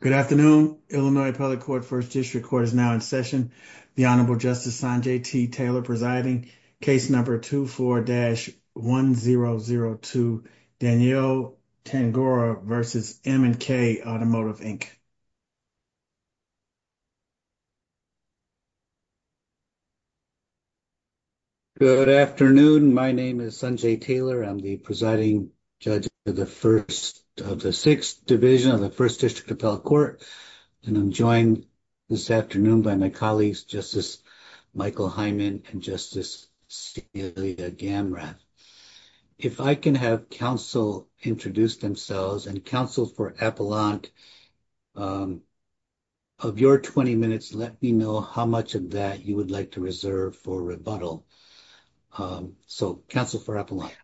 Good afternoon. Illinois Public Court First District Court is now in session. The Honorable Justice Sanjay T. Taylor presiding. Case number 24-1002, Danielle Tangorra v. M & K Automotive, Inc. Good afternoon. My name is Sanjay Taylor. I'm the presiding judge of the 1st of the 6th division of the 1st District Appellate Court, and I'm joined this afternoon by my colleagues, Justice Michael Hyman and Justice Celia Gamrat. If I can have counsel introduce themselves, and counsel for appellant of your 20 minutes, let me know how much of that you would like to reserve for rebuttal. So counsel for appellant.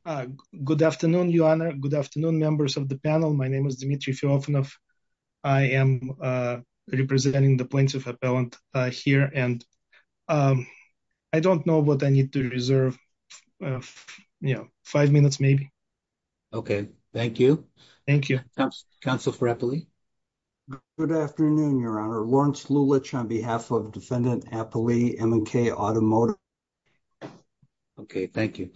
Good afternoon, Your Honor. Good afternoon, members of the panel. My name is Dmitry Filofanov. I am representing the points of appellant here, and I don't know what I need to reserve, you know, five minutes maybe. Okay, thank you. Thank you. Counsel for appellate. Good afternoon, Your Honor. Lawrence Lulich on behalf of Defendant Appellate M & K Automotive. Okay, thank you.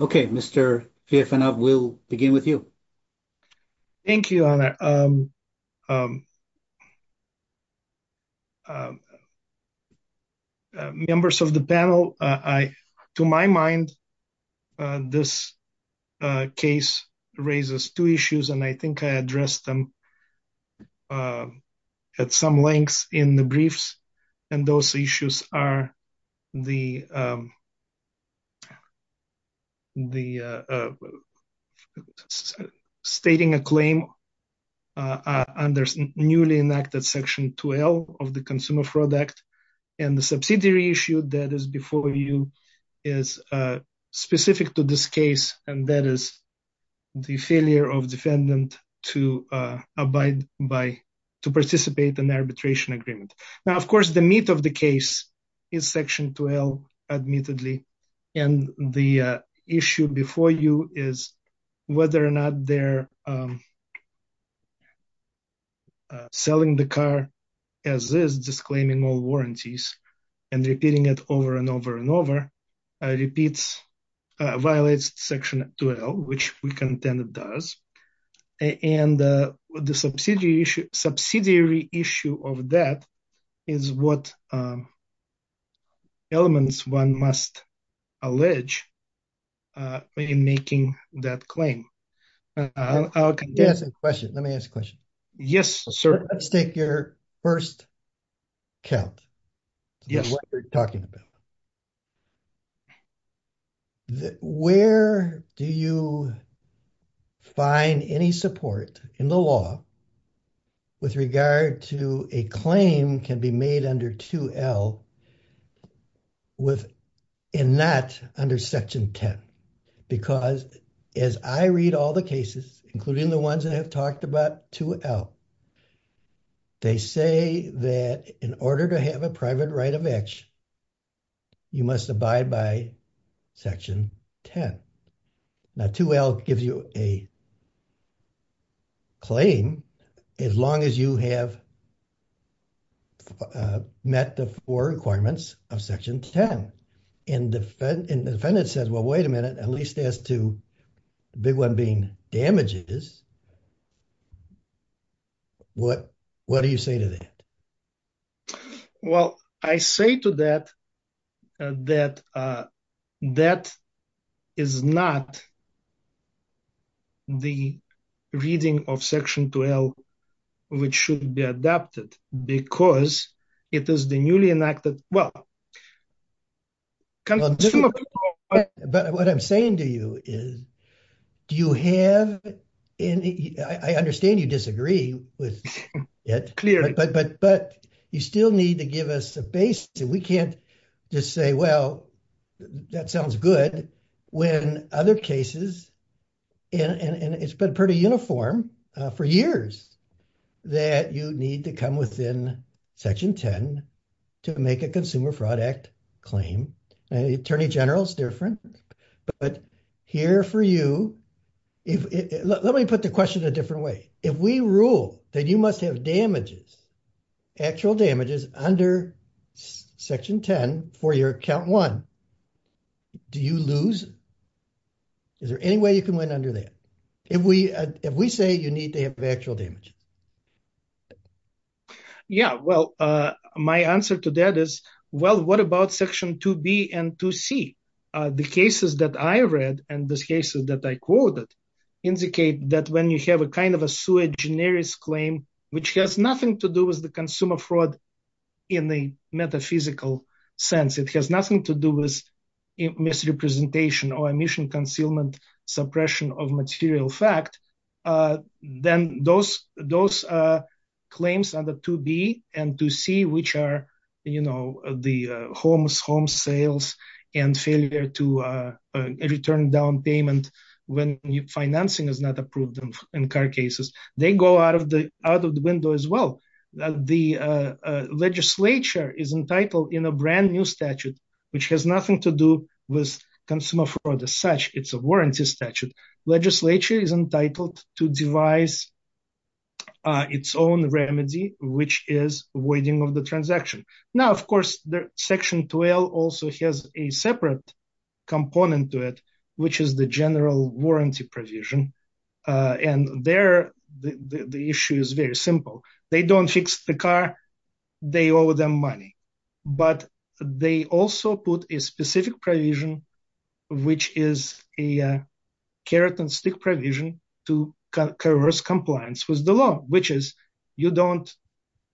Okay, Mr. Filofanov, we'll begin with you. Thank you, Your Honor. Members of the panel, to my mind, this case raises two issues, and I think I addressed them at some length in the briefs. And those issues are the stating a claim under newly enacted Section 2L of the Consumer Fraud Act, and the subsidiary issue that is before you is specific to this case, and that is the failure of defendant to abide by, to participate in arbitration agreement. Now, of course, the meat of the case is Section 2L, admittedly, and the issue before you is whether or not they're selling the car as is, disclaiming all warranties, and repeating it over and over and over, repeats, violates Section 2L, which we contend it does, and the subsidiary issue of that is what elements one must allege in making that claim. Let me ask a question. Let me ask a question. Yes, sir. Let's take your first count. Yes, what you're talking about. Where do you find any support in the law with regard to a claim can be made under 2L with, and not under Section 10? Because as I read all the cases, including the ones that have talked about 2L, they say that in order to have a private right of action, you must abide by Section 10. Now, 2L gives you a claim as long as you have met the four requirements of Section 10, and the defendant says, well, wait a minute, at least as to the big one being damages, what do you say to that? Well, I say to that, that that is not the reading of Section 2L, which should be adapted, because it is the newly enacted, well, but what I'm saying to you is, do you have any, I understand you disagree with it, but you still need to give us a basis, and we can't just say, well, that sounds good, when other cases, and it's been pretty uniform for years, that you need to come within Section 10 to make a Consumer Fraud Act claim. The Attorney General is different, but here for you, let me put the question a different way. If we rule that you must have damages, actual damages under Section 10 for your Account 1, do you lose? Is there any way you can win under that? If we say you need to have actual damages? Yeah, well, my answer to that is, well, what about Section 2B and 2C? The cases that I read, and the cases that I quoted, indicate that when you have a kind of a sui generis claim, which has nothing to do with the consumer fraud in the metaphysical sense, it has nothing to do with misrepresentation or emission concealment suppression of material fact, then those, those claims under 2B and 2C, which are, you know, the homes, home sales, and failure to return down payment when financing is not approved in car cases, they go out of the, out of the window as well. The legislature is entitled in a brand new statute, which has nothing to do with consumer fraud as such, it's a warranty statute. Legislature is entitled to devise its own remedy, which is waiting on the transaction. Now, of course, Section 12 also has a separate component to it, which is the general warranty provision. And there, the issue is very simple. They don't fix the car, they owe them money. But they also put a specific provision, which is a carrot and stick provision to converse compliance with the law, which is, you don't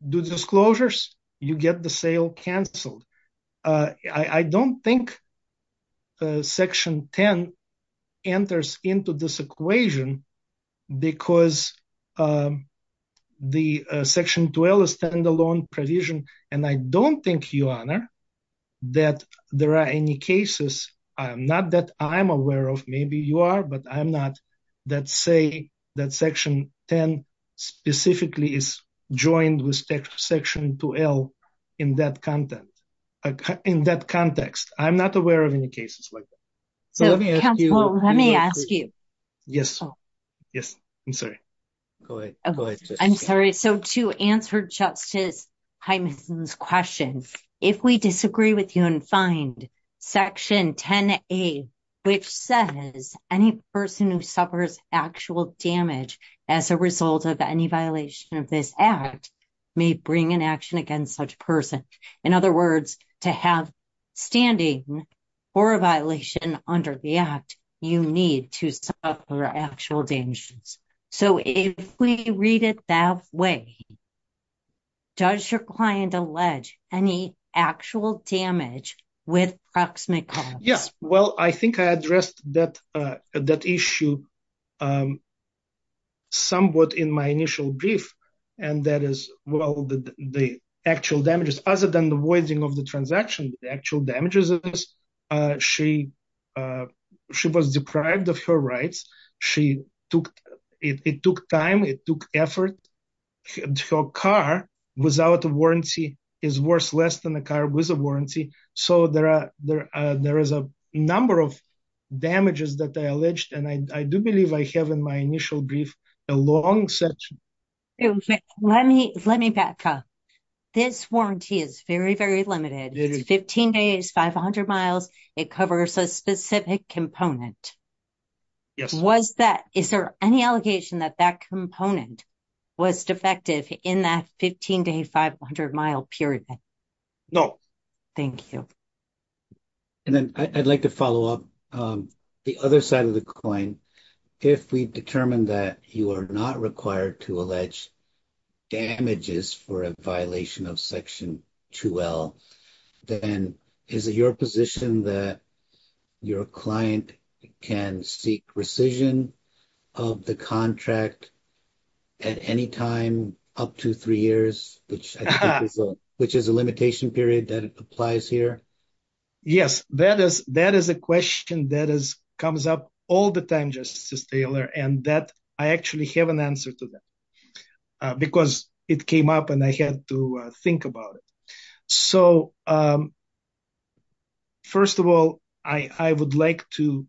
do disclosures, you get the sale canceled. I don't think Section 10 enters into this equation, because the Section 12 is a standalone provision. And I don't think, Your Honor, that there are any cases, not that I'm aware of, maybe you are, but I'm not, that say that Section 10 specifically is joined with Section 12 in that context. I'm not aware of any cases like that. So let me ask you. Yes. Yes. I'm sorry. Go ahead. I'm sorry. So to answer Justice Hyman's question, if we disagree with you and find Section 10A, which says any person who suffers actual damage as a result of any violation of this act may bring an action against such person. In other words, to have standing for a violation under the act, you need to suffer actual damages. So if we read it that way, does your client allege any actual damage with proximate cause? Yes. Well, I think I addressed that issue somewhat in my initial brief. And that is, well, the actual damages, other than the voiding of the transaction, the actual damages of this, she was deprived of her rights. It took time. It took effort. Her car, without a warranty, is worth less than a car with a warranty. So there is a number of damages that I alleged. And I do believe I have in my initial brief a long section. Okay. Let me back up. This warranty is very, very limited. It's 15 days, 500 miles. It covers a specific component. Yes. Was that, is there any allegation that that component was defective in that 15 day, 500 mile period? No. Thank you. And then I'd like to follow up the other side of the coin. If we determined that you are not required to allege damages for a violation of section 2L, then is it your position that your client can seek rescission of the contract at any time up to three years, which is a limitation period that applies here? Yes, that is a question that comes up all the time, Justice Taylor, and that I actually have an answer to that because it came up and I had to think about it. So first of all, I would like to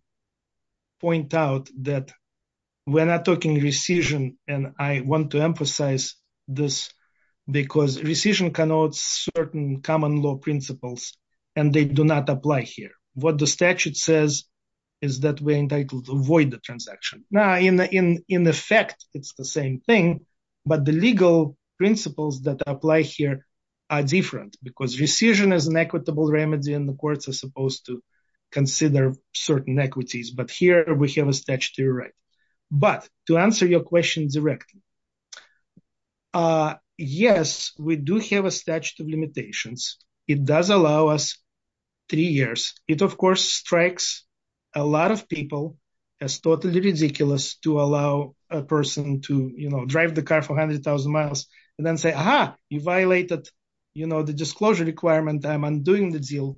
point out that we're not talking rescission, and I want to emphasize this because rescission connotes certain common law principles, and they do not apply here. What the statute says is that we're entitled to avoid the transaction. Now, in effect, it's the same thing, but the legal principles that apply here are different because rescission is an equitable remedy and the courts are supposed to consider certain equities, but here we have a statutory right. But to answer your question directly, yes, we do have a statute of limitations. It does allow us three years. It, of course, strikes a lot of people as totally ridiculous to allow a person to drive the car for 100,000 miles and then say, aha, you violated the disclosure requirement, I'm undoing the deal,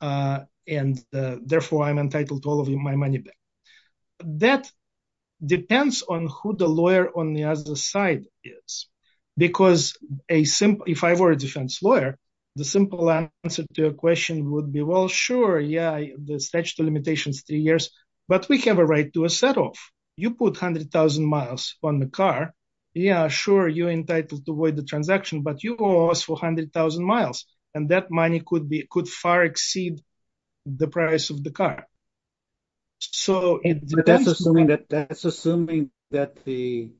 and therefore I'm entitled to all of my money back. That depends on who the lawyer on the other side is, because if I were a defense lawyer, the simple answer to your question would be, well, sure, yeah, the statute of limitations is three years, but we have a right to a set off. You put 100,000 miles on the car, yeah, sure, you're entitled to avoid the transaction, but you owe us 100,000 miles, and that money could far exceed the price of the car. But that's assuming that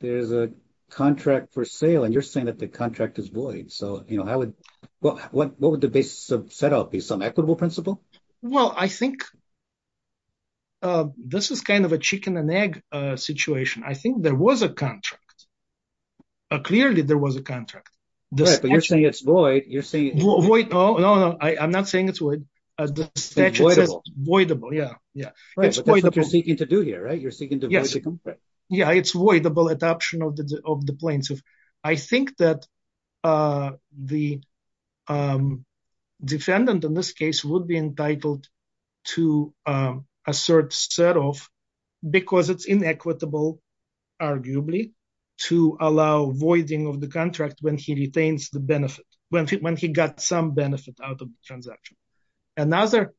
there's a contract for sale, and you're saying that the contract is void, so what would the basis of set up be, some equitable principle? Well, I think this is kind of a chicken and egg situation. I think there was a contract. Clearly, there was a contract. Right, but you're saying it's void. Void, oh, no, no, I'm not saying it's void. The statute is voidable, yeah. Right, but that's what you're seeking to do here, right? You're seeking to void the contract. Yeah, it's voidable adoption of the plaintiff. I think that the defendant in this case would be entitled to assert set off, because it's inequitable, arguably, to allow voiding of contract when he retains the benefit, when he got some benefit out of the transaction. Another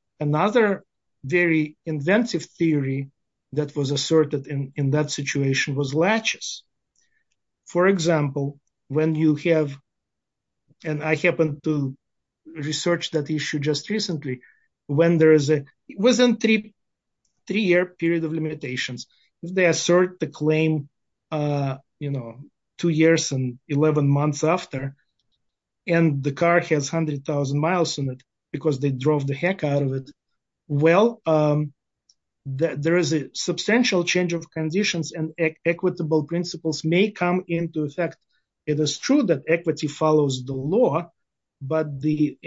very inventive theory that was asserted in that situation was latches. For example, when you have, and I happened to research that issue just recently, when there was a three-year period of limitations, if they assert the claim, you know, two years and 11 months after, and the car has 100,000 miles in it, because they drove the heck out of it, well, there is a substantial change of conditions and equitable principles may come into effect. It is true that equity follows the law, but the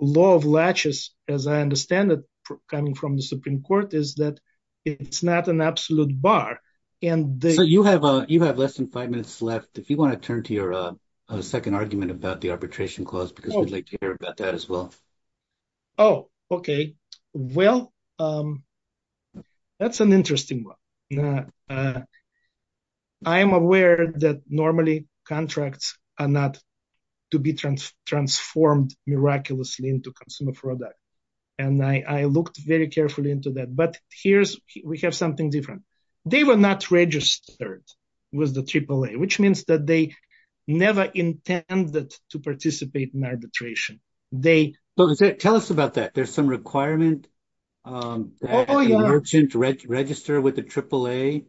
law of latches, as I understand it, coming from the Supreme Court, is that it's not an absolute bar. So you have less than five minutes left. If you want to turn to your second argument about the arbitration clause, because we'd like to hear about that as well. Oh, okay. Well, that's an interesting one. I am aware that normally contracts are not to be transformed miraculously into consumer product. And I looked very carefully into that. But here's, we have something different. They were not registered with the AAA, which means that they never intended to participate in arbitration. Tell us about that. There's some requirement to register with the AAA?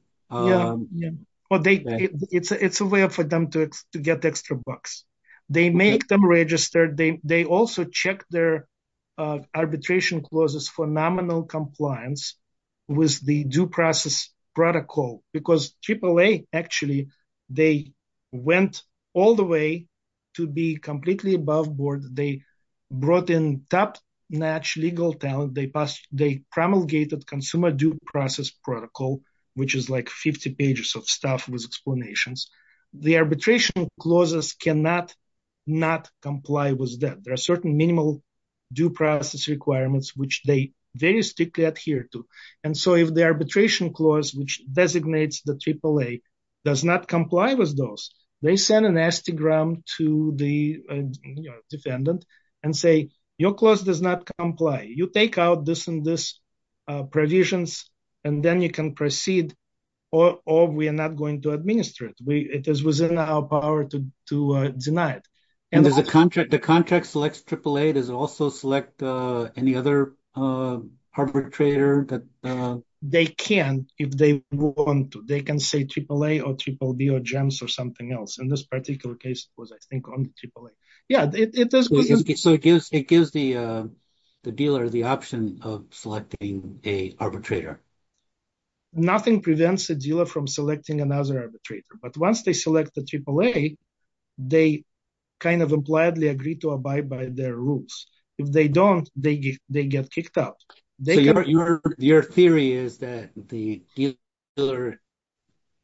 It's a way for them to get extra bucks. They make them register. They also check their arbitration clauses for nominal compliance with the due process protocol, because AAA, actually, they went all the way to be completely above board. They brought in top-notch legal talent. They promulgated consumer due process protocol, which is like 50 pages of stuff with explanations. The arbitration clauses cannot not comply with that. There are certain minimal due process requirements, which they very strictly adhere to. And so if the arbitration clause, which designates the AAA, does not comply with those, they send an Instagram to the defendant and say, your clause does not comply. You take out this and this provisions, and then you can proceed, or we are not going to administer it. It is within our power to deny it. And the contract selects AAA, does it also select any other arbitrator? They can, if they want to. They can say AAA, or BBB, or GEMS, or something else. In this particular case, it was, I think, only AAA. So it gives the dealer the option of selecting an arbitrator? Nothing prevents a dealer from selecting another arbitrator. But once they select the AAA, they kind of impliedly agree to abide by their rules. If they don't, they get kicked out. So your theory is that the dealer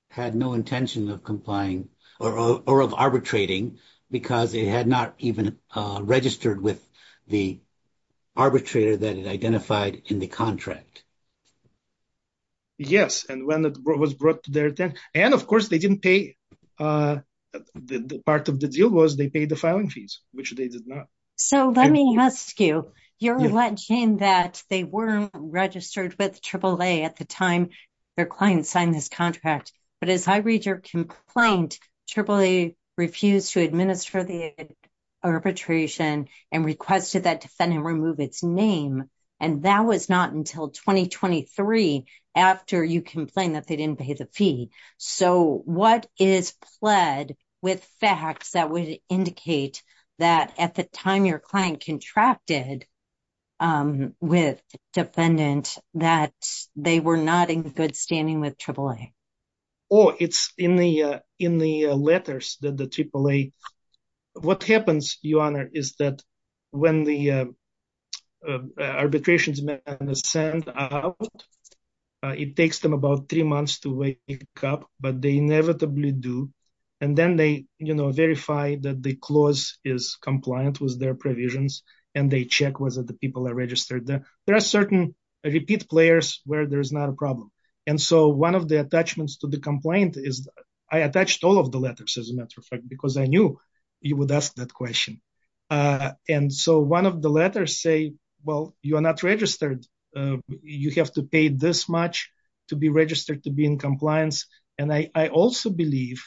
had no intention of complying, or of arbitrating, because it had not even registered with the arbitrator that it identified in the contract. Yes, and when it was brought to their attention, and of course they didn't pay, the part of the deal was they paid the filing fees, which they did not. So let me ask you, you're alleging that they weren't registered with AAA at the time their client signed this contract. But as I read your complaint, AAA refused to administer the arbitration, and requested that defendant remove its name. And that was not until 2023, after you complained that they didn't pay the fee. So what is pled with facts that would that at the time your client contracted with defendant, that they were not in good standing with AAA? Oh, it's in the letters that the AAA... What happens, Your Honor, is that when the arbitration is sent out, it takes them about three months to wake up, but they inevitably do. And then they, you know, verify that the clause is compliant with their provisions, and they check whether the people are registered. There are certain repeat players where there's not a problem. And so one of the attachments to the complaint is, I attached all of the letters, as a matter of fact, because I knew you would ask that question. And so one of the letters say, well, you are not registered. You have to pay this much to be registered to be in compliance. And I also believe,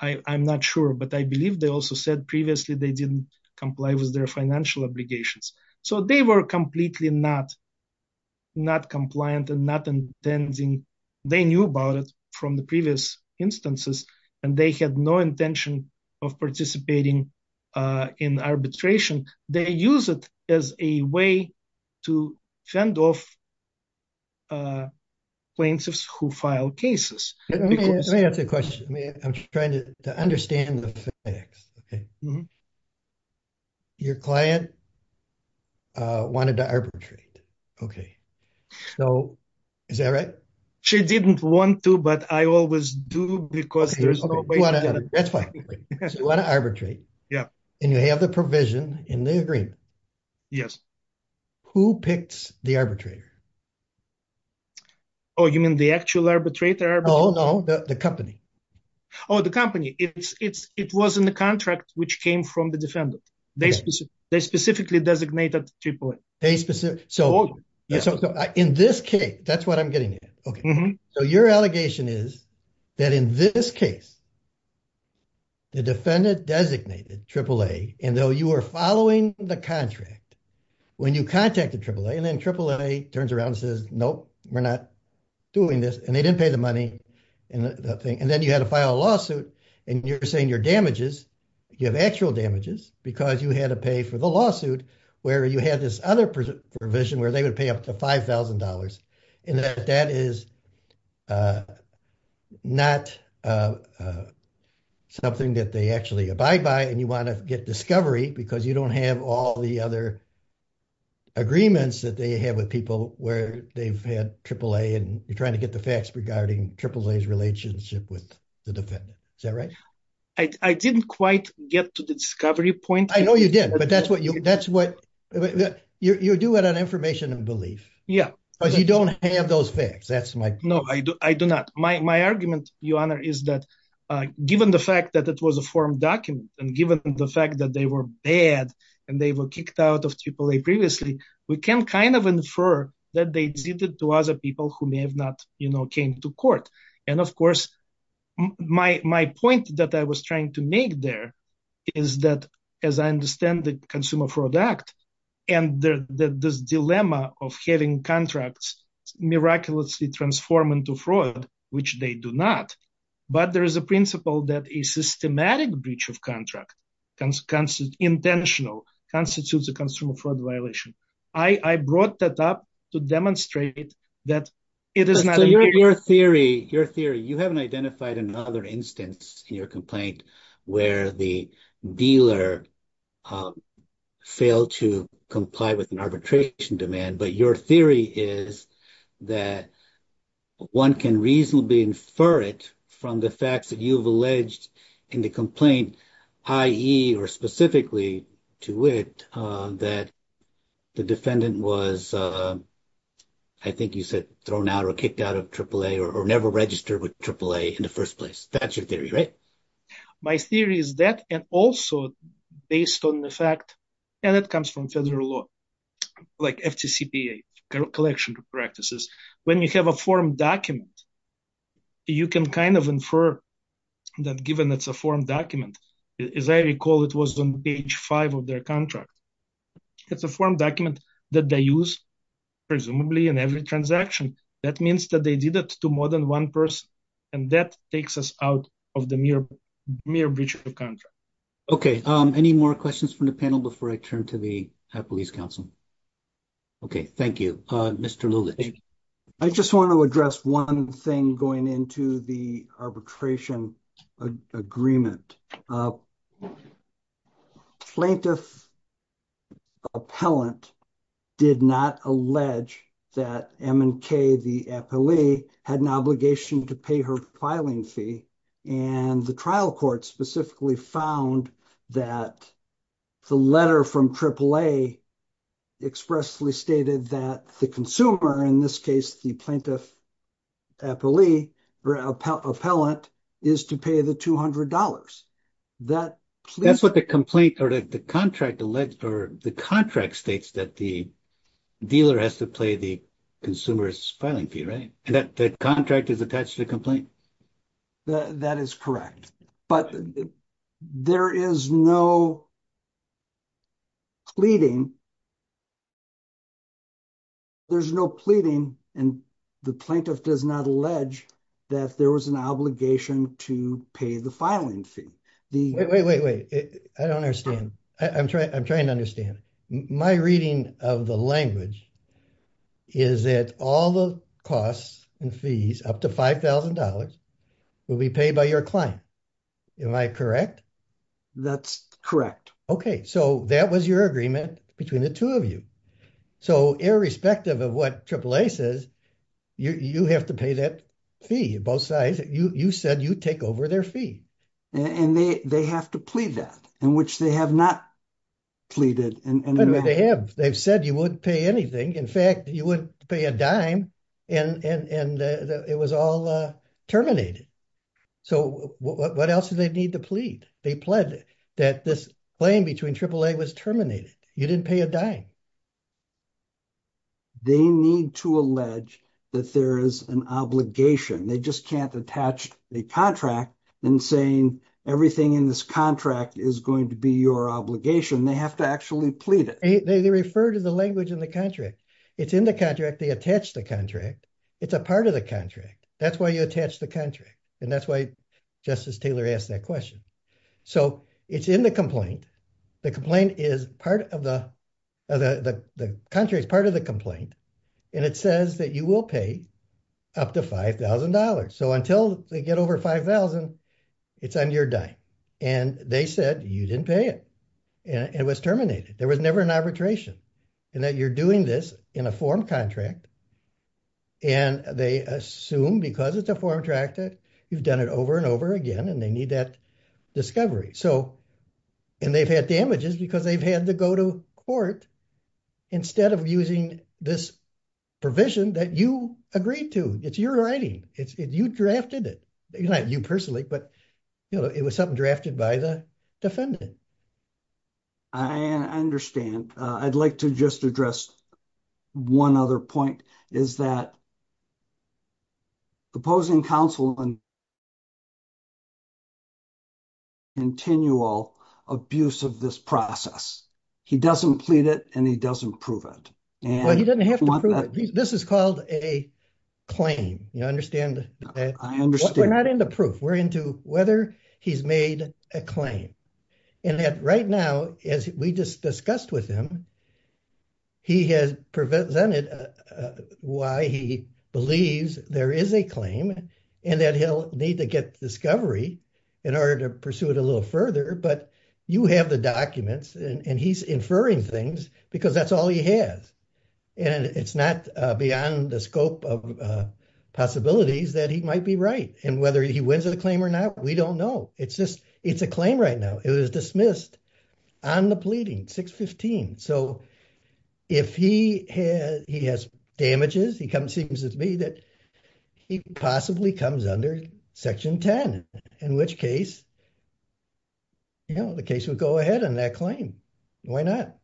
I'm not sure, but I believe they also said previously they didn't comply with their financial obligations. So they were completely not compliant and not intending. They knew about it from the previous instances, and they had no intention of participating in arbitration. They use it as a way to fend off plaintiffs who file cases. Let me ask a question. I'm trying to understand the facts. Okay. Your client wanted to arbitrate. Okay. So is that right? She didn't want to, but I always do, because there's no way... So you want to arbitrate, and you have the provision in the agreement. Yes. Who picked the arbitrator? Oh, you mean the actual arbitrator? Oh, no, the company. Oh, the company. It was in the contract which came from the defendant. They specifically designated AAA. So in this case, that's what I'm getting at. So your allegation is that in this case, the defendant designated AAA, and though you were following the contract, when you contacted AAA, and then AAA turns around and says, nope, we're not doing this, and they didn't pay the money. And then you had to file a lawsuit, and you're saying your damages, you have actual damages, because you had to pay for the lawsuit, where you had this other provision where they would pay up to $5,000. And that is not something that they actually abide by, and you want to get discovery because you don't have all the other agreements that they have with people where they've had AAA, and you're trying to get the facts regarding AAA's relationship with the defendant. Is that right? I didn't quite get to the discovery point. I know you did, but that's what... You're doing it on information and belief. Yeah. But you don't have those facts. That's my... No, I do not. My argument, Your Honor, is that given the fact that it was a form document, and given the fact that they were bad, and they were kicked out of AAA previously, we can kind of infer that they did it to other people who may have not came to court. And of course, my point that I was trying to make there is that, as I understand the Consumer Fraud Act, and this dilemma of having contracts miraculously transform into fraud, which they do not, but there is a principle that a systematic breach of contract, intentional, constitutes a Consumer Fraud Violation. I brought that up to demonstrate that it is not... So your theory, you haven't identified another instance in your complaint where the dealer failed to comply with an arbitration demand, but your theory is that one can reasonably infer it from the facts that you've alleged in the complaint, i.e., or specifically to it, that the defendant was, I think you said, thrown out or kicked out of AAA, or never registered with AAA in the first place. That's your theory, right? My theory is that, and also based on the fact, and it comes from federal law, like FTCPA, collection of practices, when you have a form document, you can kind of infer that given it's a form document, as I recall, it was on page five of their contract. It's a form document that they use, presumably, in every transaction. That means that they did it to more than one person, and that takes us out of the mere breach of contract. Okay. Any more questions from the panel before I turn to the Appellee's Council? Okay. Thank you. Mr. Lulich. I just want to address one thing going into the arbitration agreement. A plaintiff appellant did not allege that M&K, the appellee, had an obligation to pay her filing fee, and the trial court specifically found that the letter from AAA expressly stated that the in this case, the plaintiff appellee, or appellant, is to pay the $200. That's what the complaint, or the contract states that the dealer has to pay the consumer's filing fee, right? And that contract is attached to the complaint? That is correct, but there is no pleading. There's no pleading, and the plaintiff does not allege that there was an obligation to pay the filing fee. Wait, wait, wait. I don't understand. I'm trying to understand. My reading of the language is that all the costs and fees, up to $5,000, will be paid by your client. Am I correct? That's correct. Okay, so that was your agreement between the two of you. So irrespective of what AAA says, you have to pay that fee, both sides. You said you take over their fee. And they have to plead that, in which they have not pleaded. They've said you wouldn't pay anything. In fact, you wouldn't pay a dime, and it was all terminated. So what else do they need to plead? They pled that this claim between AAA was terminated. You didn't pay a dime. They need to allege that there is an obligation. They just can't attach a contract and saying everything in this contract is going to be your obligation. They have to actually plead it. They refer to the language in the contract. It's in the contract. They attach the contract. It's a part of the contract. That's why you attach the contract. And that's why Justice Taylor asked that question. So it's in the complaint. The complaint is part of the contract. It's part of the complaint. And it says that you will pay up to $5,000. So until they get over $5,000, it's on your dime. And they said you didn't pay it. And it was terminated. There was never an arbitration. And that you're doing this in a form contract, and they assume because it's a form contract that you've done it over and over again, and they need that discovery. And they've had damages because they've had to go to court instead of using this provision that you agreed to. It's your writing. You drafted it. Not you personally, but it was something drafted by the defendant. I understand. I'd like to just address one other point, is that opposing counsel and continual abuse of this process, he doesn't plead it, and he doesn't prove it. Well, he doesn't have to prove it. This is called a claim. You understand? I understand. We're not into proof. We're into whether he's made a claim. And that right now, as we just discussed with him, he has presented why he believes there is a claim, and that he'll need to get discovery in order to pursue it a little further. But you have the documents, and he's inferring things because that's all he has. And it's not beyond the scope of possibilities that he might be right. And whether he wins the claim or not, we don't know. It's just, it's a claim right now. It was dismissed on the pleading, 615. So if he has damages, it seems to me that he possibly comes under Section 10, in which case, you know, the case would go ahead on that claim. Why not?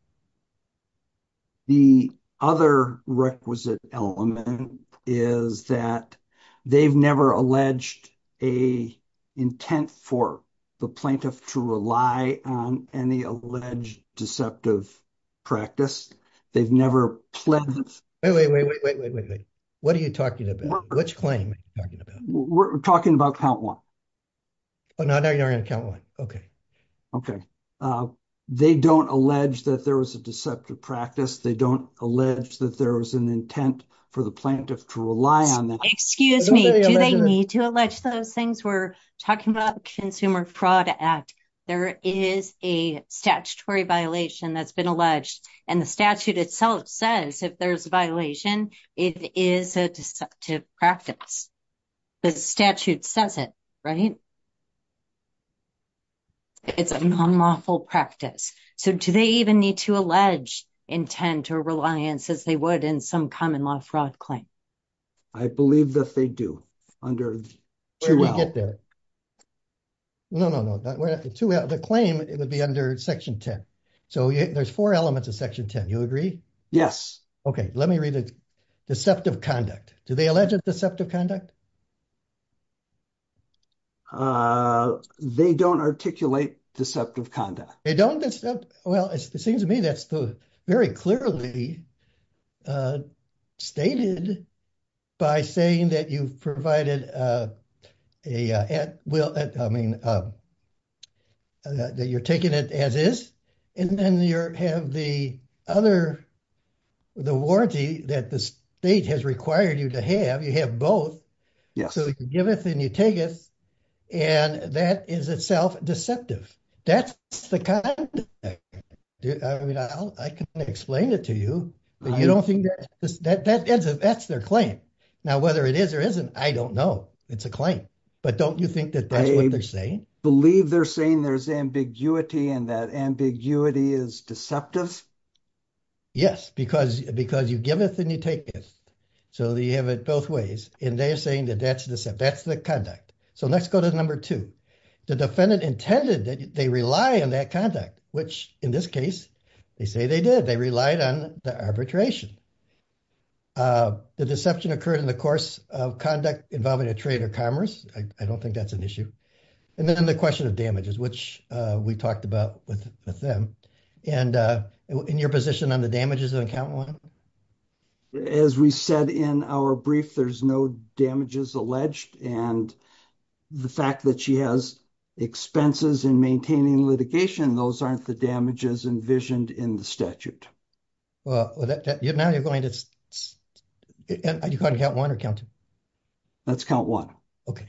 The other requisite element is that they've never alleged an intent for the plaintiff to rely on any alleged deceptive practice. They've never pledged. Wait, wait, wait, wait, wait, wait, wait, wait. What are you talking about? Which claim are you talking about? We're talking about count one. Oh, no, you're not going to count one. Okay. Okay. They don't allege that there was a deceptive practice. They don't allege that there was an intent for the plaintiff to rely on that. Excuse me. Do they need to allege those things? We're talking about the Consumer Fraud Act. There is a statutory violation that's been alleged, and the statute itself says if there's a violation, it is a deceptive practice. The statute says it, right? It's a non-lawful practice. So do they even need to allege intent or reliance, as they would in some common law fraud claim? I believe that they do. Should we get there? No, no, no. The claim would be under Section 10. So there's four elements of Section 10. You agree? Yes. Okay. Let me read it. Deceptive conduct. Do they allege a deceptive conduct? They don't articulate deceptive conduct. They don't? Well, it seems to me that's very clearly stated by saying that you've provided a, I mean, that you're taking it as is, and then you have the other, the warranty that the state has required you to have. You have both. So you giveth and you taketh, and that is itself deceptive. That's the conduct. I mean, I can explain it to you, but you don't think that's their claim. Now, whether it is or isn't, I don't know. It's a claim. But don't you think that that's what they're saying? Believe they're saying there's ambiguity and that ambiguity is deceptive? Yes, because you giveth and you taketh. So you have it both ways. And they're saying that that's deceptive. That's the conduct. So let's go to number two. The defendant intended that they rely on that conduct, which in this case, they say they did. They relied on the arbitration. The deception occurred in the course of conduct involving a trade or commerce. I don't think that's an issue. And then the question of damages, which we talked about with them. And in your position on the damages on count one? As we said in our brief, there's no damages alleged. And the fact that she has expenses in maintaining litigation, those aren't the damages envisioned in the statute. Well, now you're going to count one or count two? That's count one. Okay.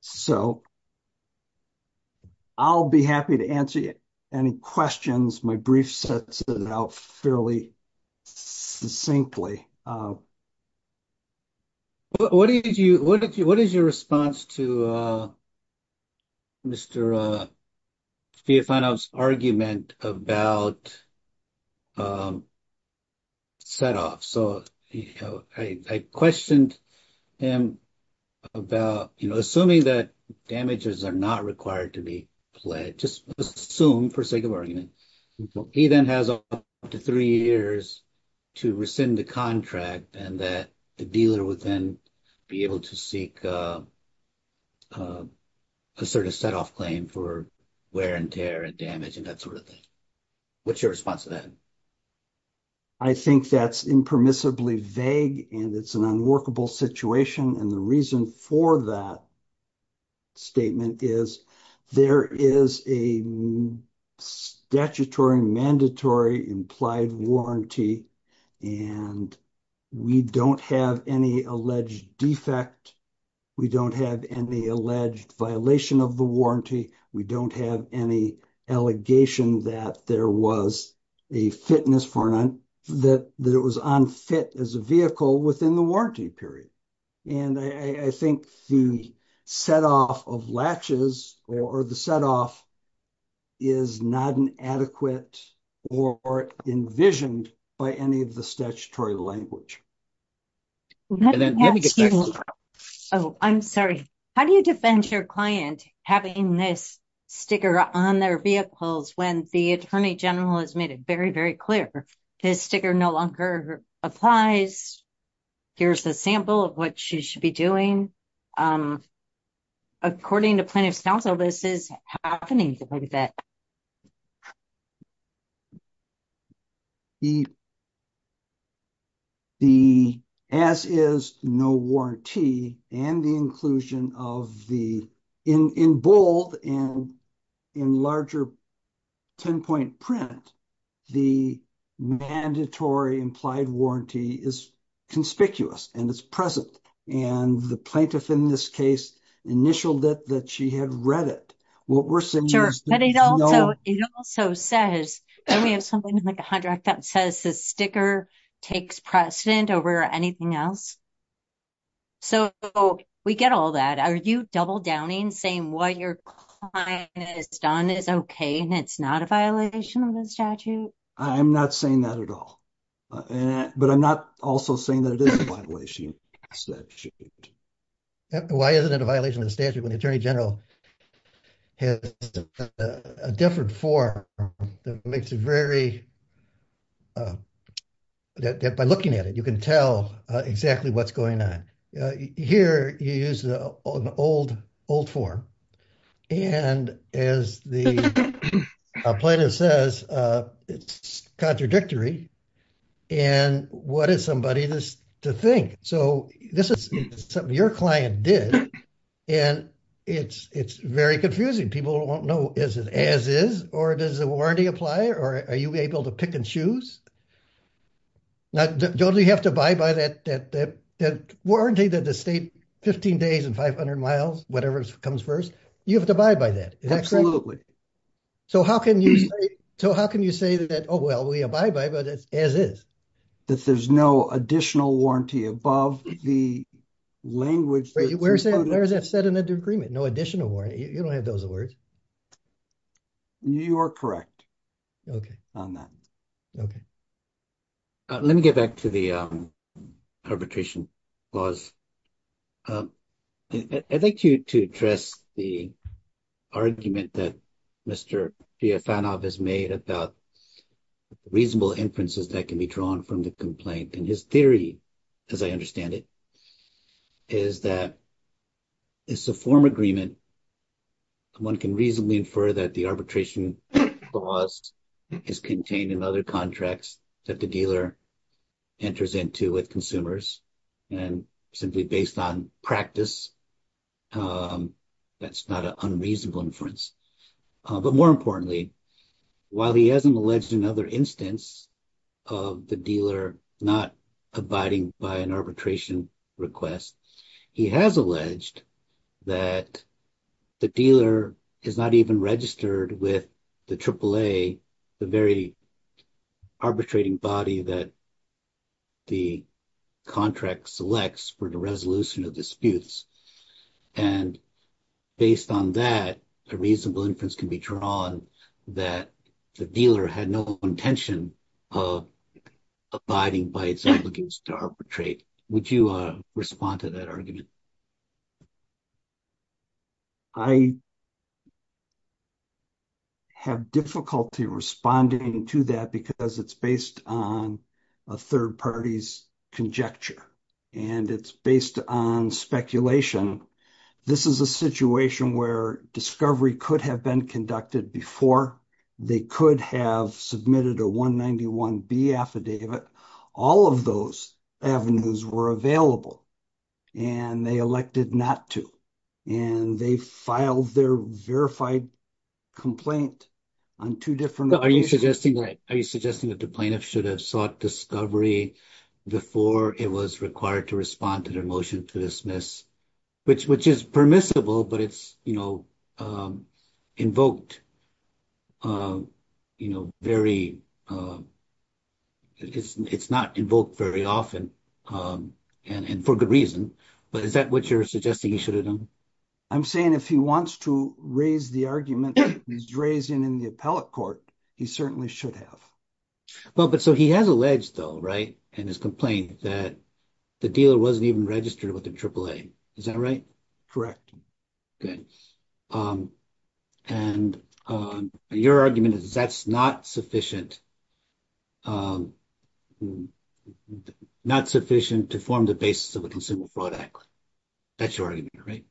So I'll be happy to answer any questions. My brief sets it out fairly succinctly. What is your response to Mr. Fiafano's argument about set off? So I questioned him about assuming that damages are not required to be assumed for sake of argument. He then has up to three years to rescind the contract and that the dealer would then be able to seek a sort of set off claim for wear and tear and damage and that sort of thing. What's your response to that? I think that's impermissibly vague and it's an unworkable situation. And the reason for that statement is there is a statutory mandatory implied warranty and we don't have any alleged defect. We don't have any alleged violation of the warranty. We don't have any allegation that there was a fitness for that, that it was unfit as a vehicle within the warranty period. And I think the set off of latches or the set off is not an adequate or envisioned by any of the statutory language. Oh, I'm sorry. How do you defend your client having this sticker on their vehicles when the attorney general has made it very, very clear? His sticker no longer applies. Here's a sample of what she should be doing. According to plaintiff's counsel, this is happening. The S is no warranty and the inclusion of the, in bold and in larger 10 point print, the mandatory implied warranty is conspicuous and it's present. And the plaintiff in this case initialed it that she had read it. What we're saying is- Sure, but it also says that we have something in the contract that says the sticker takes precedent over anything else. So we get all that. Are you double downing saying what your client has done is okay and it's not a violation of the statute? I'm not saying that at all, but I'm not also saying that it is a violation of the statute. Why isn't it a violation of the statute when the attorney general has a different form that makes it very, by looking at it, you can tell exactly what's going on. Here you use the old form. And as the plaintiff says it's contradictory and what is somebody to think? So this is something your client did and it's very confusing. People won't know is it as is or does the warranty apply or are you able to pick and choose? Now, don't you have to buy by that warranty that the state 15 days and 500 miles, whatever comes first, you have to buy by that. Absolutely. So how can you say that, oh, well, we abide by that as is? That there's no additional warranty above the language- Wait, where is that set in the agreement? No additional warranty? You don't have those words? You are correct on that. Okay. Let me get back to the arbitration clause. I'd like you to address the argument that Mr. Giafanov has made about reasonable inferences that can be drawn from the complaint. And his theory, as I understand it, is that it's a form agreement. One can reasonably infer that the arbitration clause is contained in other contracts that the dealer enters into with consumers. And simply based on practice, that's not an unreasonable inference. But more importantly, while he hasn't alleged another instance of the dealer not abiding by an arbitration request, he has alleged that the dealer is not even registered with the AAA, the very arbitrating body that the contract selects for the resolution of disputes. And based on that, a reasonable inference can be drawn that the dealer had no intention of abiding by its obligations to arbitrate. Would you respond to that argument? I have difficulty responding to that because it's based on a third party's conjecture. And it's based on speculation. This is a situation where discovery could have been conducted before. They could have submitted a 191B affidavit. All of those avenues were available. And they elected not to. And they filed their verified complaint on two different occasions. Are you suggesting that the plaintiff should have sought discovery before it was required to respond to their motion to dismiss? Which is permissible, but it's not invoked very often, and for good reason. But is that what you're suggesting he should have done? I'm saying if he wants to raise the argument that he's raised in the appellate court, he certainly should have. Well, but so he has alleged though, right, in his complaint that the dealer wasn't even with the AAA. Is that right? Correct. Good. And your argument is that's not sufficient to form the basis of a consumer fraud act. That's your argument, right?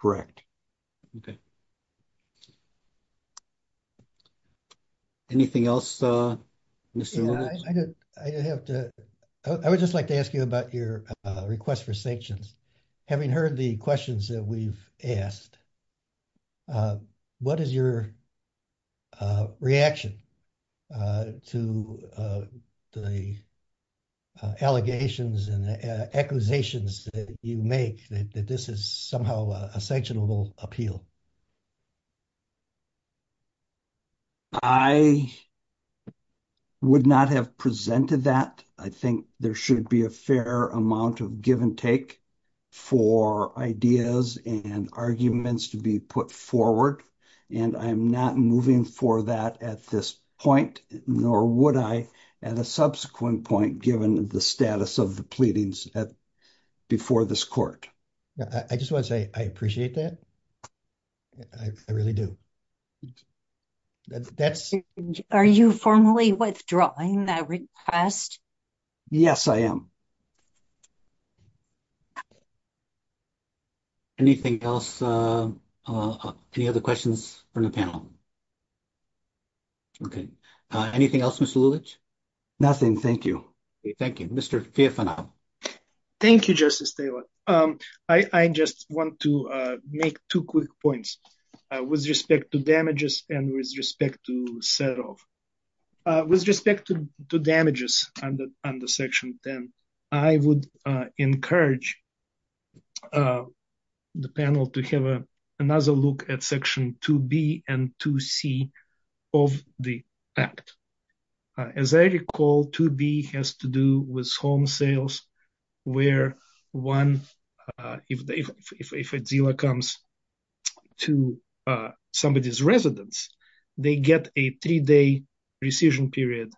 Correct. Okay. Anything else, Mr. Roberts? Yeah, I would just like to ask you about your request for sanctions. Having heard the questions that we've asked, what is your reaction to the allegations and the accusations that you make that this is somehow a sanctionable appeal? I would not have presented that. I think there should be a fair amount of give and take for ideas and arguments to be put forward, and I'm not moving for that at this point, nor would I at a subsequent point, given the status of the pleadings before this court. I just want to say I appreciate that. I really do. Are you formally withdrawing that request? Yes, I am. Anything else? Any other questions from the panel? Okay. Anything else, Mr. Lulich? Nothing. Thank you. Thank you. Mr. Fiathanov? Thank you, Justice Taylor. I just want to make two quick points with respect to damages and with respect to set-off. With respect to damages under Section 10, I would encourage the panel to have another look at Section 2b and 2c of the act. As I recall, 2b has to do with home sales, where if a dealer comes to somebody's residence, they get a three-day rescission period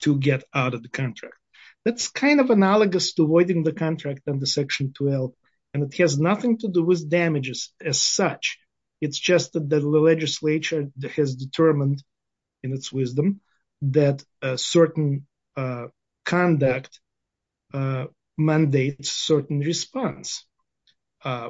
to get out of the contract. That's kind of analogous to voiding the contract under Section 12, and it has nothing to do with damages as such. It's just that the legislature has determined, in its wisdom, that a certain conduct mandates a certain response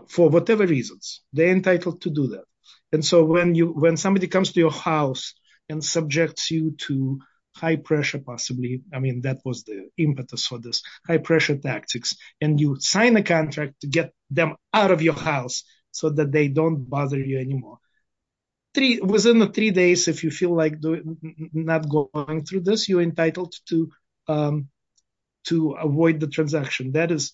for whatever reasons. They're entitled to do that. And so when somebody comes to your house and subjects you to high-pressure, possibly, I mean, that was the impetus for this, high-pressure tactics, and you sign a contract to get them out of your house so that they don't bother you anymore. Within the three days, if you feel like not going through this, you're entitled to avoid the transaction. That is,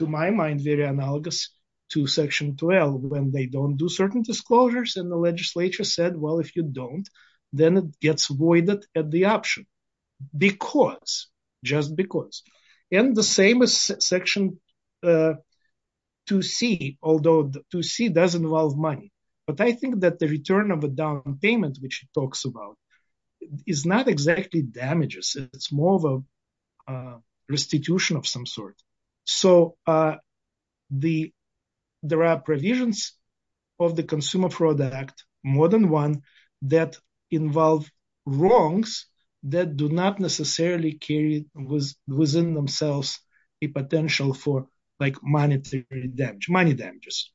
to my mind, very analogous to Section 12, when they don't do certain disclosures, and the legislature said, well, if you don't, then it gets voided at the But I think that the return of a down payment, which he talks about, is not exactly damages. It's more of a restitution of some sort. So there are provisions of the Consumer Fraud Act, more than one, that involve wrongs that do not necessarily carry within themselves a potential for monetary damage, money damages,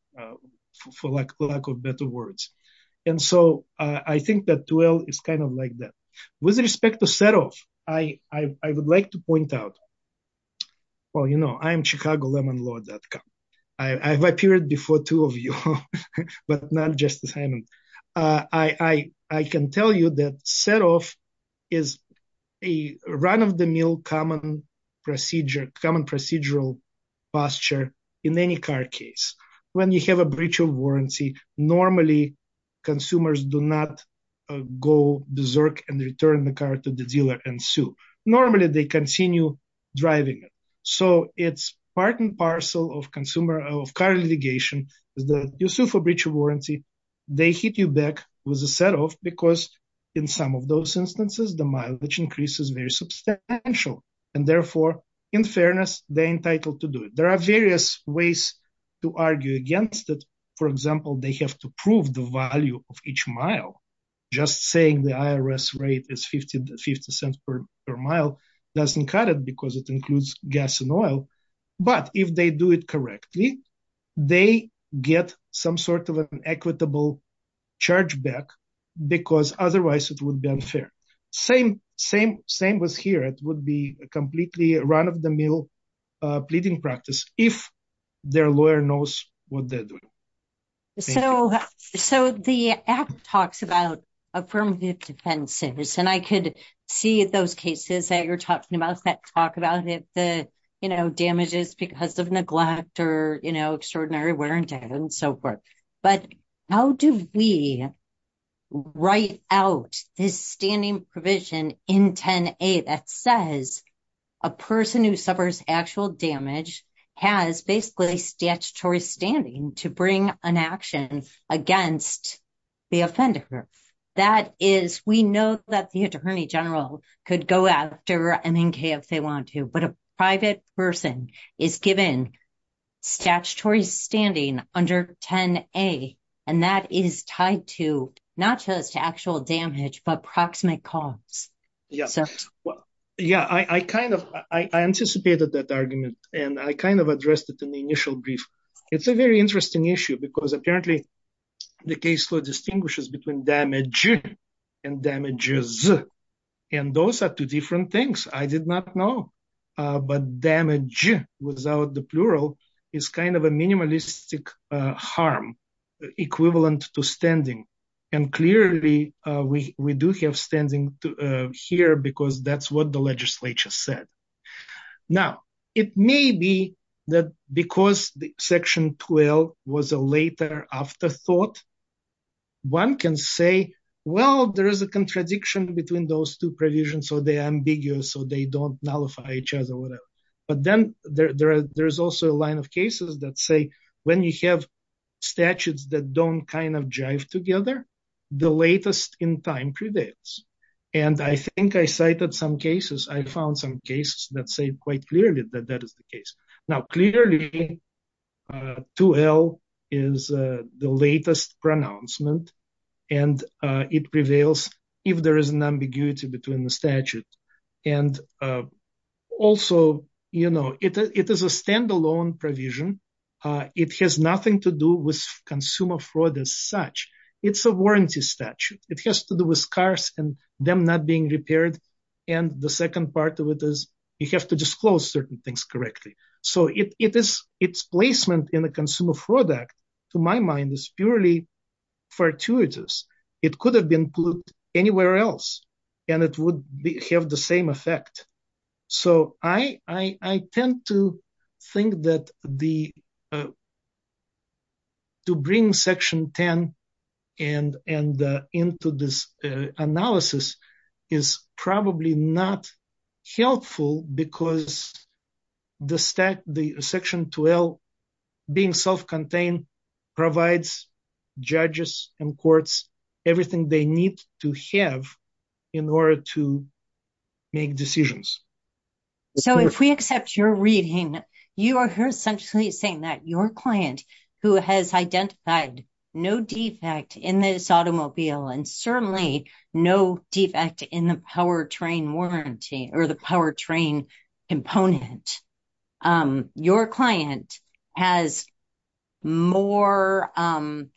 for lack of better words. And so I think that 12 is kind of like that. With respect to set-off, I would like to point out, well, you know, I am chicagolemonlord.com. I've appeared before two of you, but not Justice Breach of Warranty. It's a common procedural posture in any car case. When you have a breach of warranty, normally, consumers do not go berserk and return the car to the dealer and sue. Normally, they continue driving it. So it's part and parcel of car litigation. You sue for breach of warranty, they hit you back with a set-off, because in some of those instances, the mileage increase is very substantial. And therefore, in fairness, they're entitled to do it. There are various ways to argue against it. For example, they have to prove the value of each mile. Just saying the IRS rate is 50 cents per mile doesn't cut it, because it includes gas and oil. But if they do it correctly, they get some sort of an equitable chargeback, because otherwise it would be unfair. Same with here. It would be a completely run-of-the-mill pleading practice, if their lawyer knows what they're doing. So the Act talks about affirmative defenses, and I could see those cases that you're talking about that talk about it, the, you know, damages because of neglect or, you know, extraordinary wear and tear, and so forth. But how do we write out this standing provision in 10a that says a person who suffers actual damage has basically statutory standing to bring an action against the offender? That is, we know that the attorney general could go after MNK if they want to, but a private person is given statutory standing under 10a, and that is tied to, not just actual damage, but proximate cause. Yeah, well, yeah, I kind of, I anticipated that argument, and I kind of addressed it in the initial brief. It's a very interesting issue, because apparently the case law distinguishes between damage and damages, and those are two different things. I did not know, but damage, without the plural, is kind of a minimalistic harm, equivalent to standing, and clearly we do have standing here because that's what the legislature said. Now, it may be that because Section 12 was a later afterthought, one can say, well, there is a contradiction between those two provisions, so they are ambiguous, or they don't nullify each other, or whatever. But then there's also a line of cases that say when you have statutes that don't kind of jive together, the latest in time prevails. And I think I cited some cases, I found some cases that say quite clearly that that is the case. Now, clearly, 2L is the latest pronouncement, and it prevails if there is an ambiguity between the statute. And also, you know, it is a standalone provision. It has nothing to do with consumer fraud as such. It's a warranty statute. It has to do with cars and them not being repaired, and the second part of it is you have to disclose certain things correctly. So its placement in the Consumer Fraud Act, to my mind, is purely fortuitous. It could have been put anywhere else, and it would have the same effect. So I tend to think that the to bring Section 10 into this analysis is probably not helpful because the Section 2L being self-contained provides judges and courts everything they need to have in order to client who has identified no defect in this automobile and certainly no defect in the power train warranty or the power train component, your client has more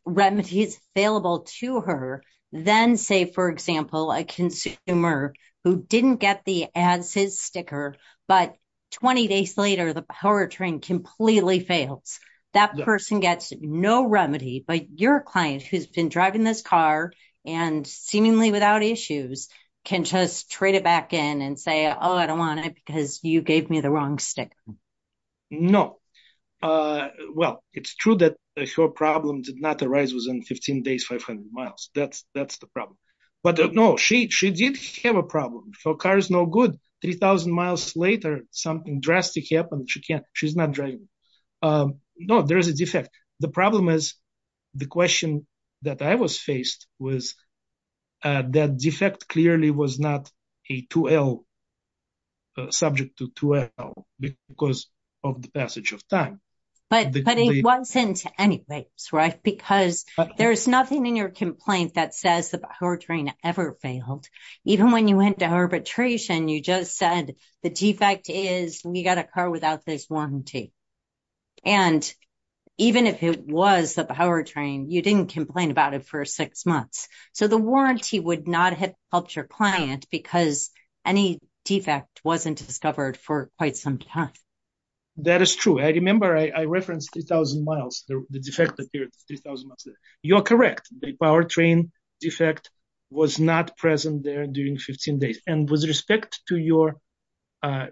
remedies available to her than, say, for example, a consumer who didn't get the ads sticker, but 20 days later, the power train completely fails. That person gets no remedy, but your client who's been driving this car and seemingly without issues can just trade it back in and say, oh, I don't want it because you gave me the wrong sticker. No. Well, it's true that her problem did not arise within 15 days, 500 miles. That's the problem. But no, she did have a problem. Her car is no good. 3,000 miles later, something drastic happened. She's not driving. No, there's a defect. The problem is the question that I was faced with that defect clearly was not a 2L subject to 2L because of the passage of time. But it wasn't anyways, right? Because there's nothing in your complaint that says the power train ever failed. Even when you went to say the defect is we got a car without this warranty. And even if it was the power train, you didn't complain about it for six months. So the warranty would not have helped your client because any defect wasn't discovered for quite some time. That is true. I remember I referenced 3,000 miles. The defect appeared 3,000 miles later. You're correct. The power train defect was not present there during 15 days. And with respect to your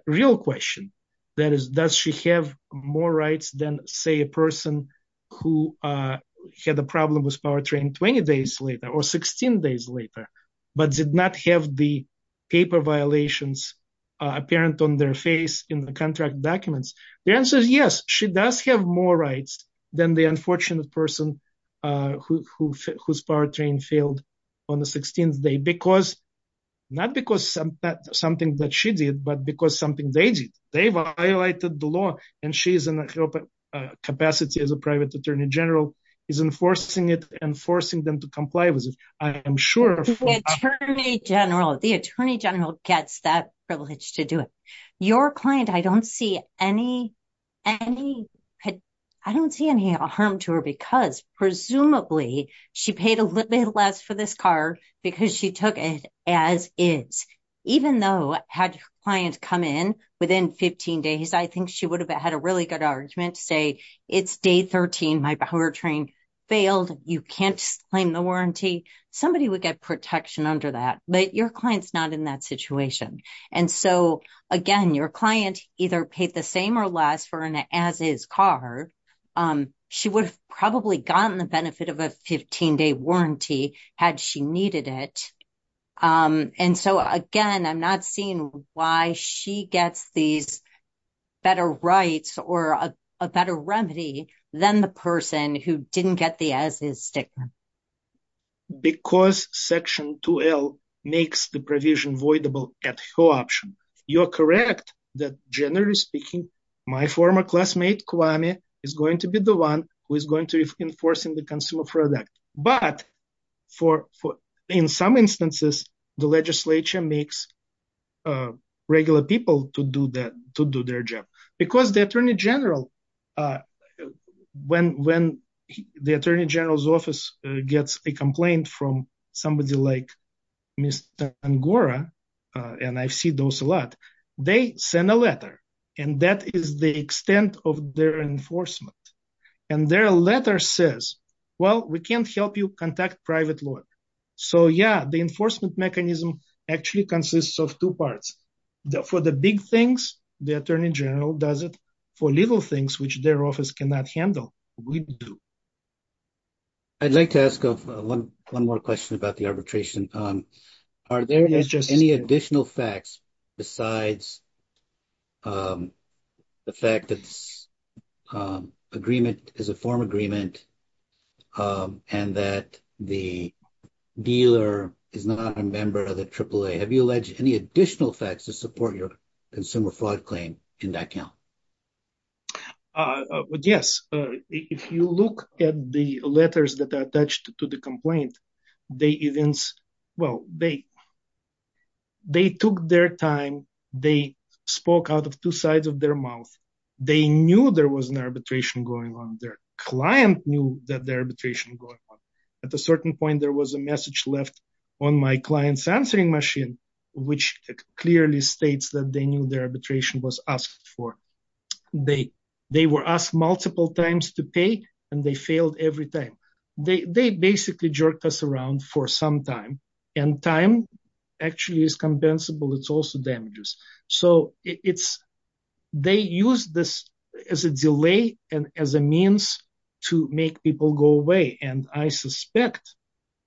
real question, that is, does she have more rights than, say, a person who had a problem with power train 20 days later or 16 days later, but did not have the paper violations apparent on their face in the contract documents? The answer is yes. She does have more rights than the unfortunate person whose power failed on the 16th day. Not because something that she did, but because something they did. They violated the law. And she is in a capacity as a private attorney general is enforcing it and forcing them to comply with it. I am sure- The attorney general gets that privilege to do it. Your client, I don't see any harm to her because presumably she paid a little bit less for this car because she took it as is. Even though had clients come in within 15 days, I think she would have had a really good argument to say, it's day 13. My power train failed. You can't claim the warranty. Somebody would get protection under that. But your client's not in that situation. And so, again, your client either paid the same or less for an as-is car. She would have probably gotten the benefit of a 15-day warranty had she needed it. And so, again, I'm not seeing why she gets these better rights or a better remedy than the person who didn't get the as-is sticker. Because section 2L makes the provision voidable at her option. You're correct that, generally speaking, my former classmate Kwame is going to be the one who is going to be enforcing the consumer product. But in some instances, the legislature makes regular people to do their job. Because the attorney general, when the attorney general's office gets a complaint from somebody like Mr. Angora, and I see those a lot, they send a letter. And that is the extent of their enforcement. And their letter says, well, we can't help you contact private lawyer. So, yeah, the enforcement mechanism actually consists of two parts. For the big things, the attorney general does it. For little things, which their office cannot handle, we do. I'd like to ask one more question about the arbitration. Are there any additional facts besides the fact that this agreement is a form agreement and that the dealer is not a member of the AAA? Have you alleged any additional facts to support your consumer fraud claim in that count? Yes. If you look at the letters that are attached to the complaint, they took their time. They spoke out of two sides of their mouth. They knew there was an arbitration going on. Their client knew that the arbitration was going on. At a certain point, there was a message left on my client's answering machine, which clearly states that they knew the arbitration was asked for. They were asked multiple times to pay, and they failed every time. They basically jerked us around for some time. Time actually is compensable. It's also damages. They use this as a delay and as a means to make people go away. I suspect,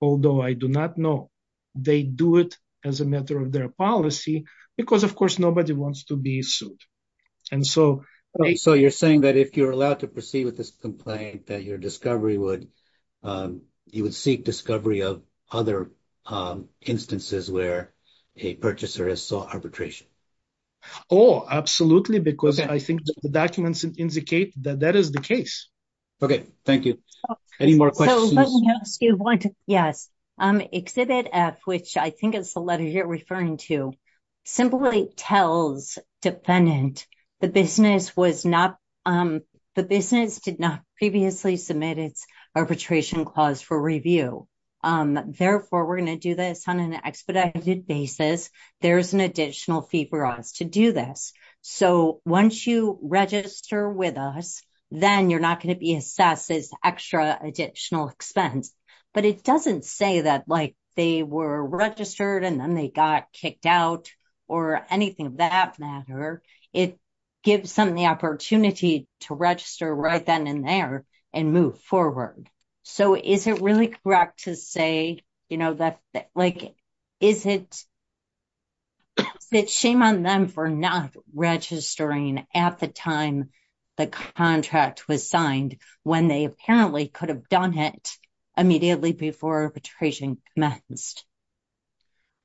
although I do not know, they do it as a matter of their policy because, of course, nobody wants to be sued. So, you're saying that if you're allowed to proceed with this complaint, that you would seek discovery of other instances where a purchaser has sought arbitration? Oh, absolutely, because I think the documents indicate that that is the case. Okay, thank you. Any more questions? Yes. Exhibit F, which I think is the letter you're referring to, simply tells defendant the business did not previously submit its arbitration clause for review. Therefore, we're going to do this on an expedited basis. There's an additional fee for us to do this. So, once you register with us, then you're not going to be assessed as extra additional expense. But it doesn't say that, like, they were registered and then they got kicked out or anything of that matter. It gives them the opportunity to register right then and there and move forward. So, is it really correct to say, you know, like, is it shame on them for not registering at the time the contract was signed when they apparently could have done it immediately before arbitration commenced?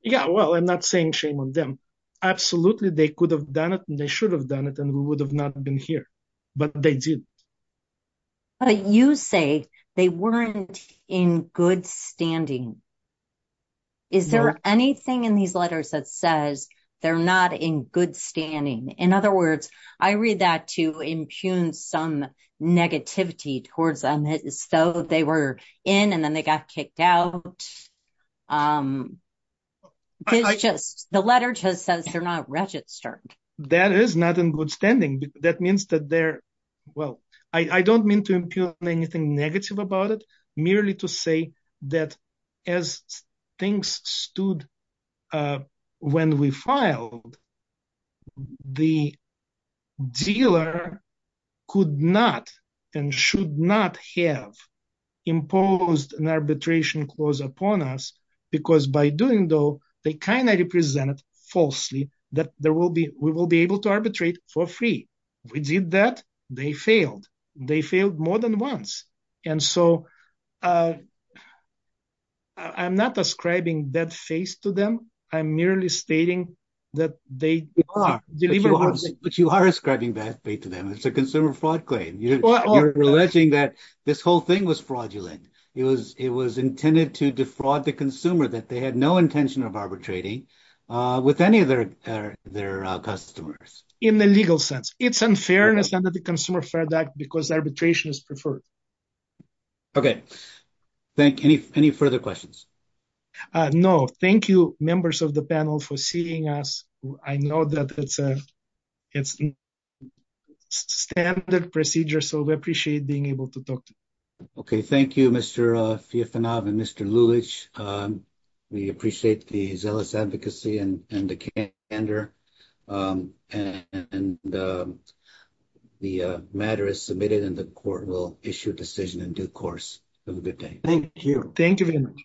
Yeah, well, I'm not saying shame on them. Absolutely, they could have done it and they should have done it and we would have not been here. But they did. But you say they weren't in good standing. Is there anything in these letters that says they're not in good standing? In other words, I read that to impugn some negativity towards them. So, they were in and then they got kicked out. The letter just says they're not registered. That is not in good standing. That means that they're, well, I don't mean to impugn anything negative about it, merely to say that as things stood when we filed, the dealer could not and should not have imposed an arbitration clause upon us because by doing so, they kind of represented falsely that we will be able to arbitrate for free. We did that, they failed. They failed more than once. And so, I'm not ascribing that face to them. I'm merely stating that they are. But you are ascribing that face to them. It's a consumer fraud claim. You're alleging that this whole thing was fraudulent. It was intended to defraud the consumer that they had no intention of arbitrating with any of their customers. In the legal sense, it's unfairness under the Consumer Fair Act because arbitration is preferred. Okay, thank you. Any further questions? No. Thank you, members of the panel, for seeing us. I know that it's a standard procedure, so we appreciate being able to talk to you. Okay, thank you, Mr. Fiafunov and Mr. Lulich. We appreciate the zealous advocacy and the candor. And the matter is submitted and the court will issue a decision in due course. Have a good day. Thank you. Thank you very much.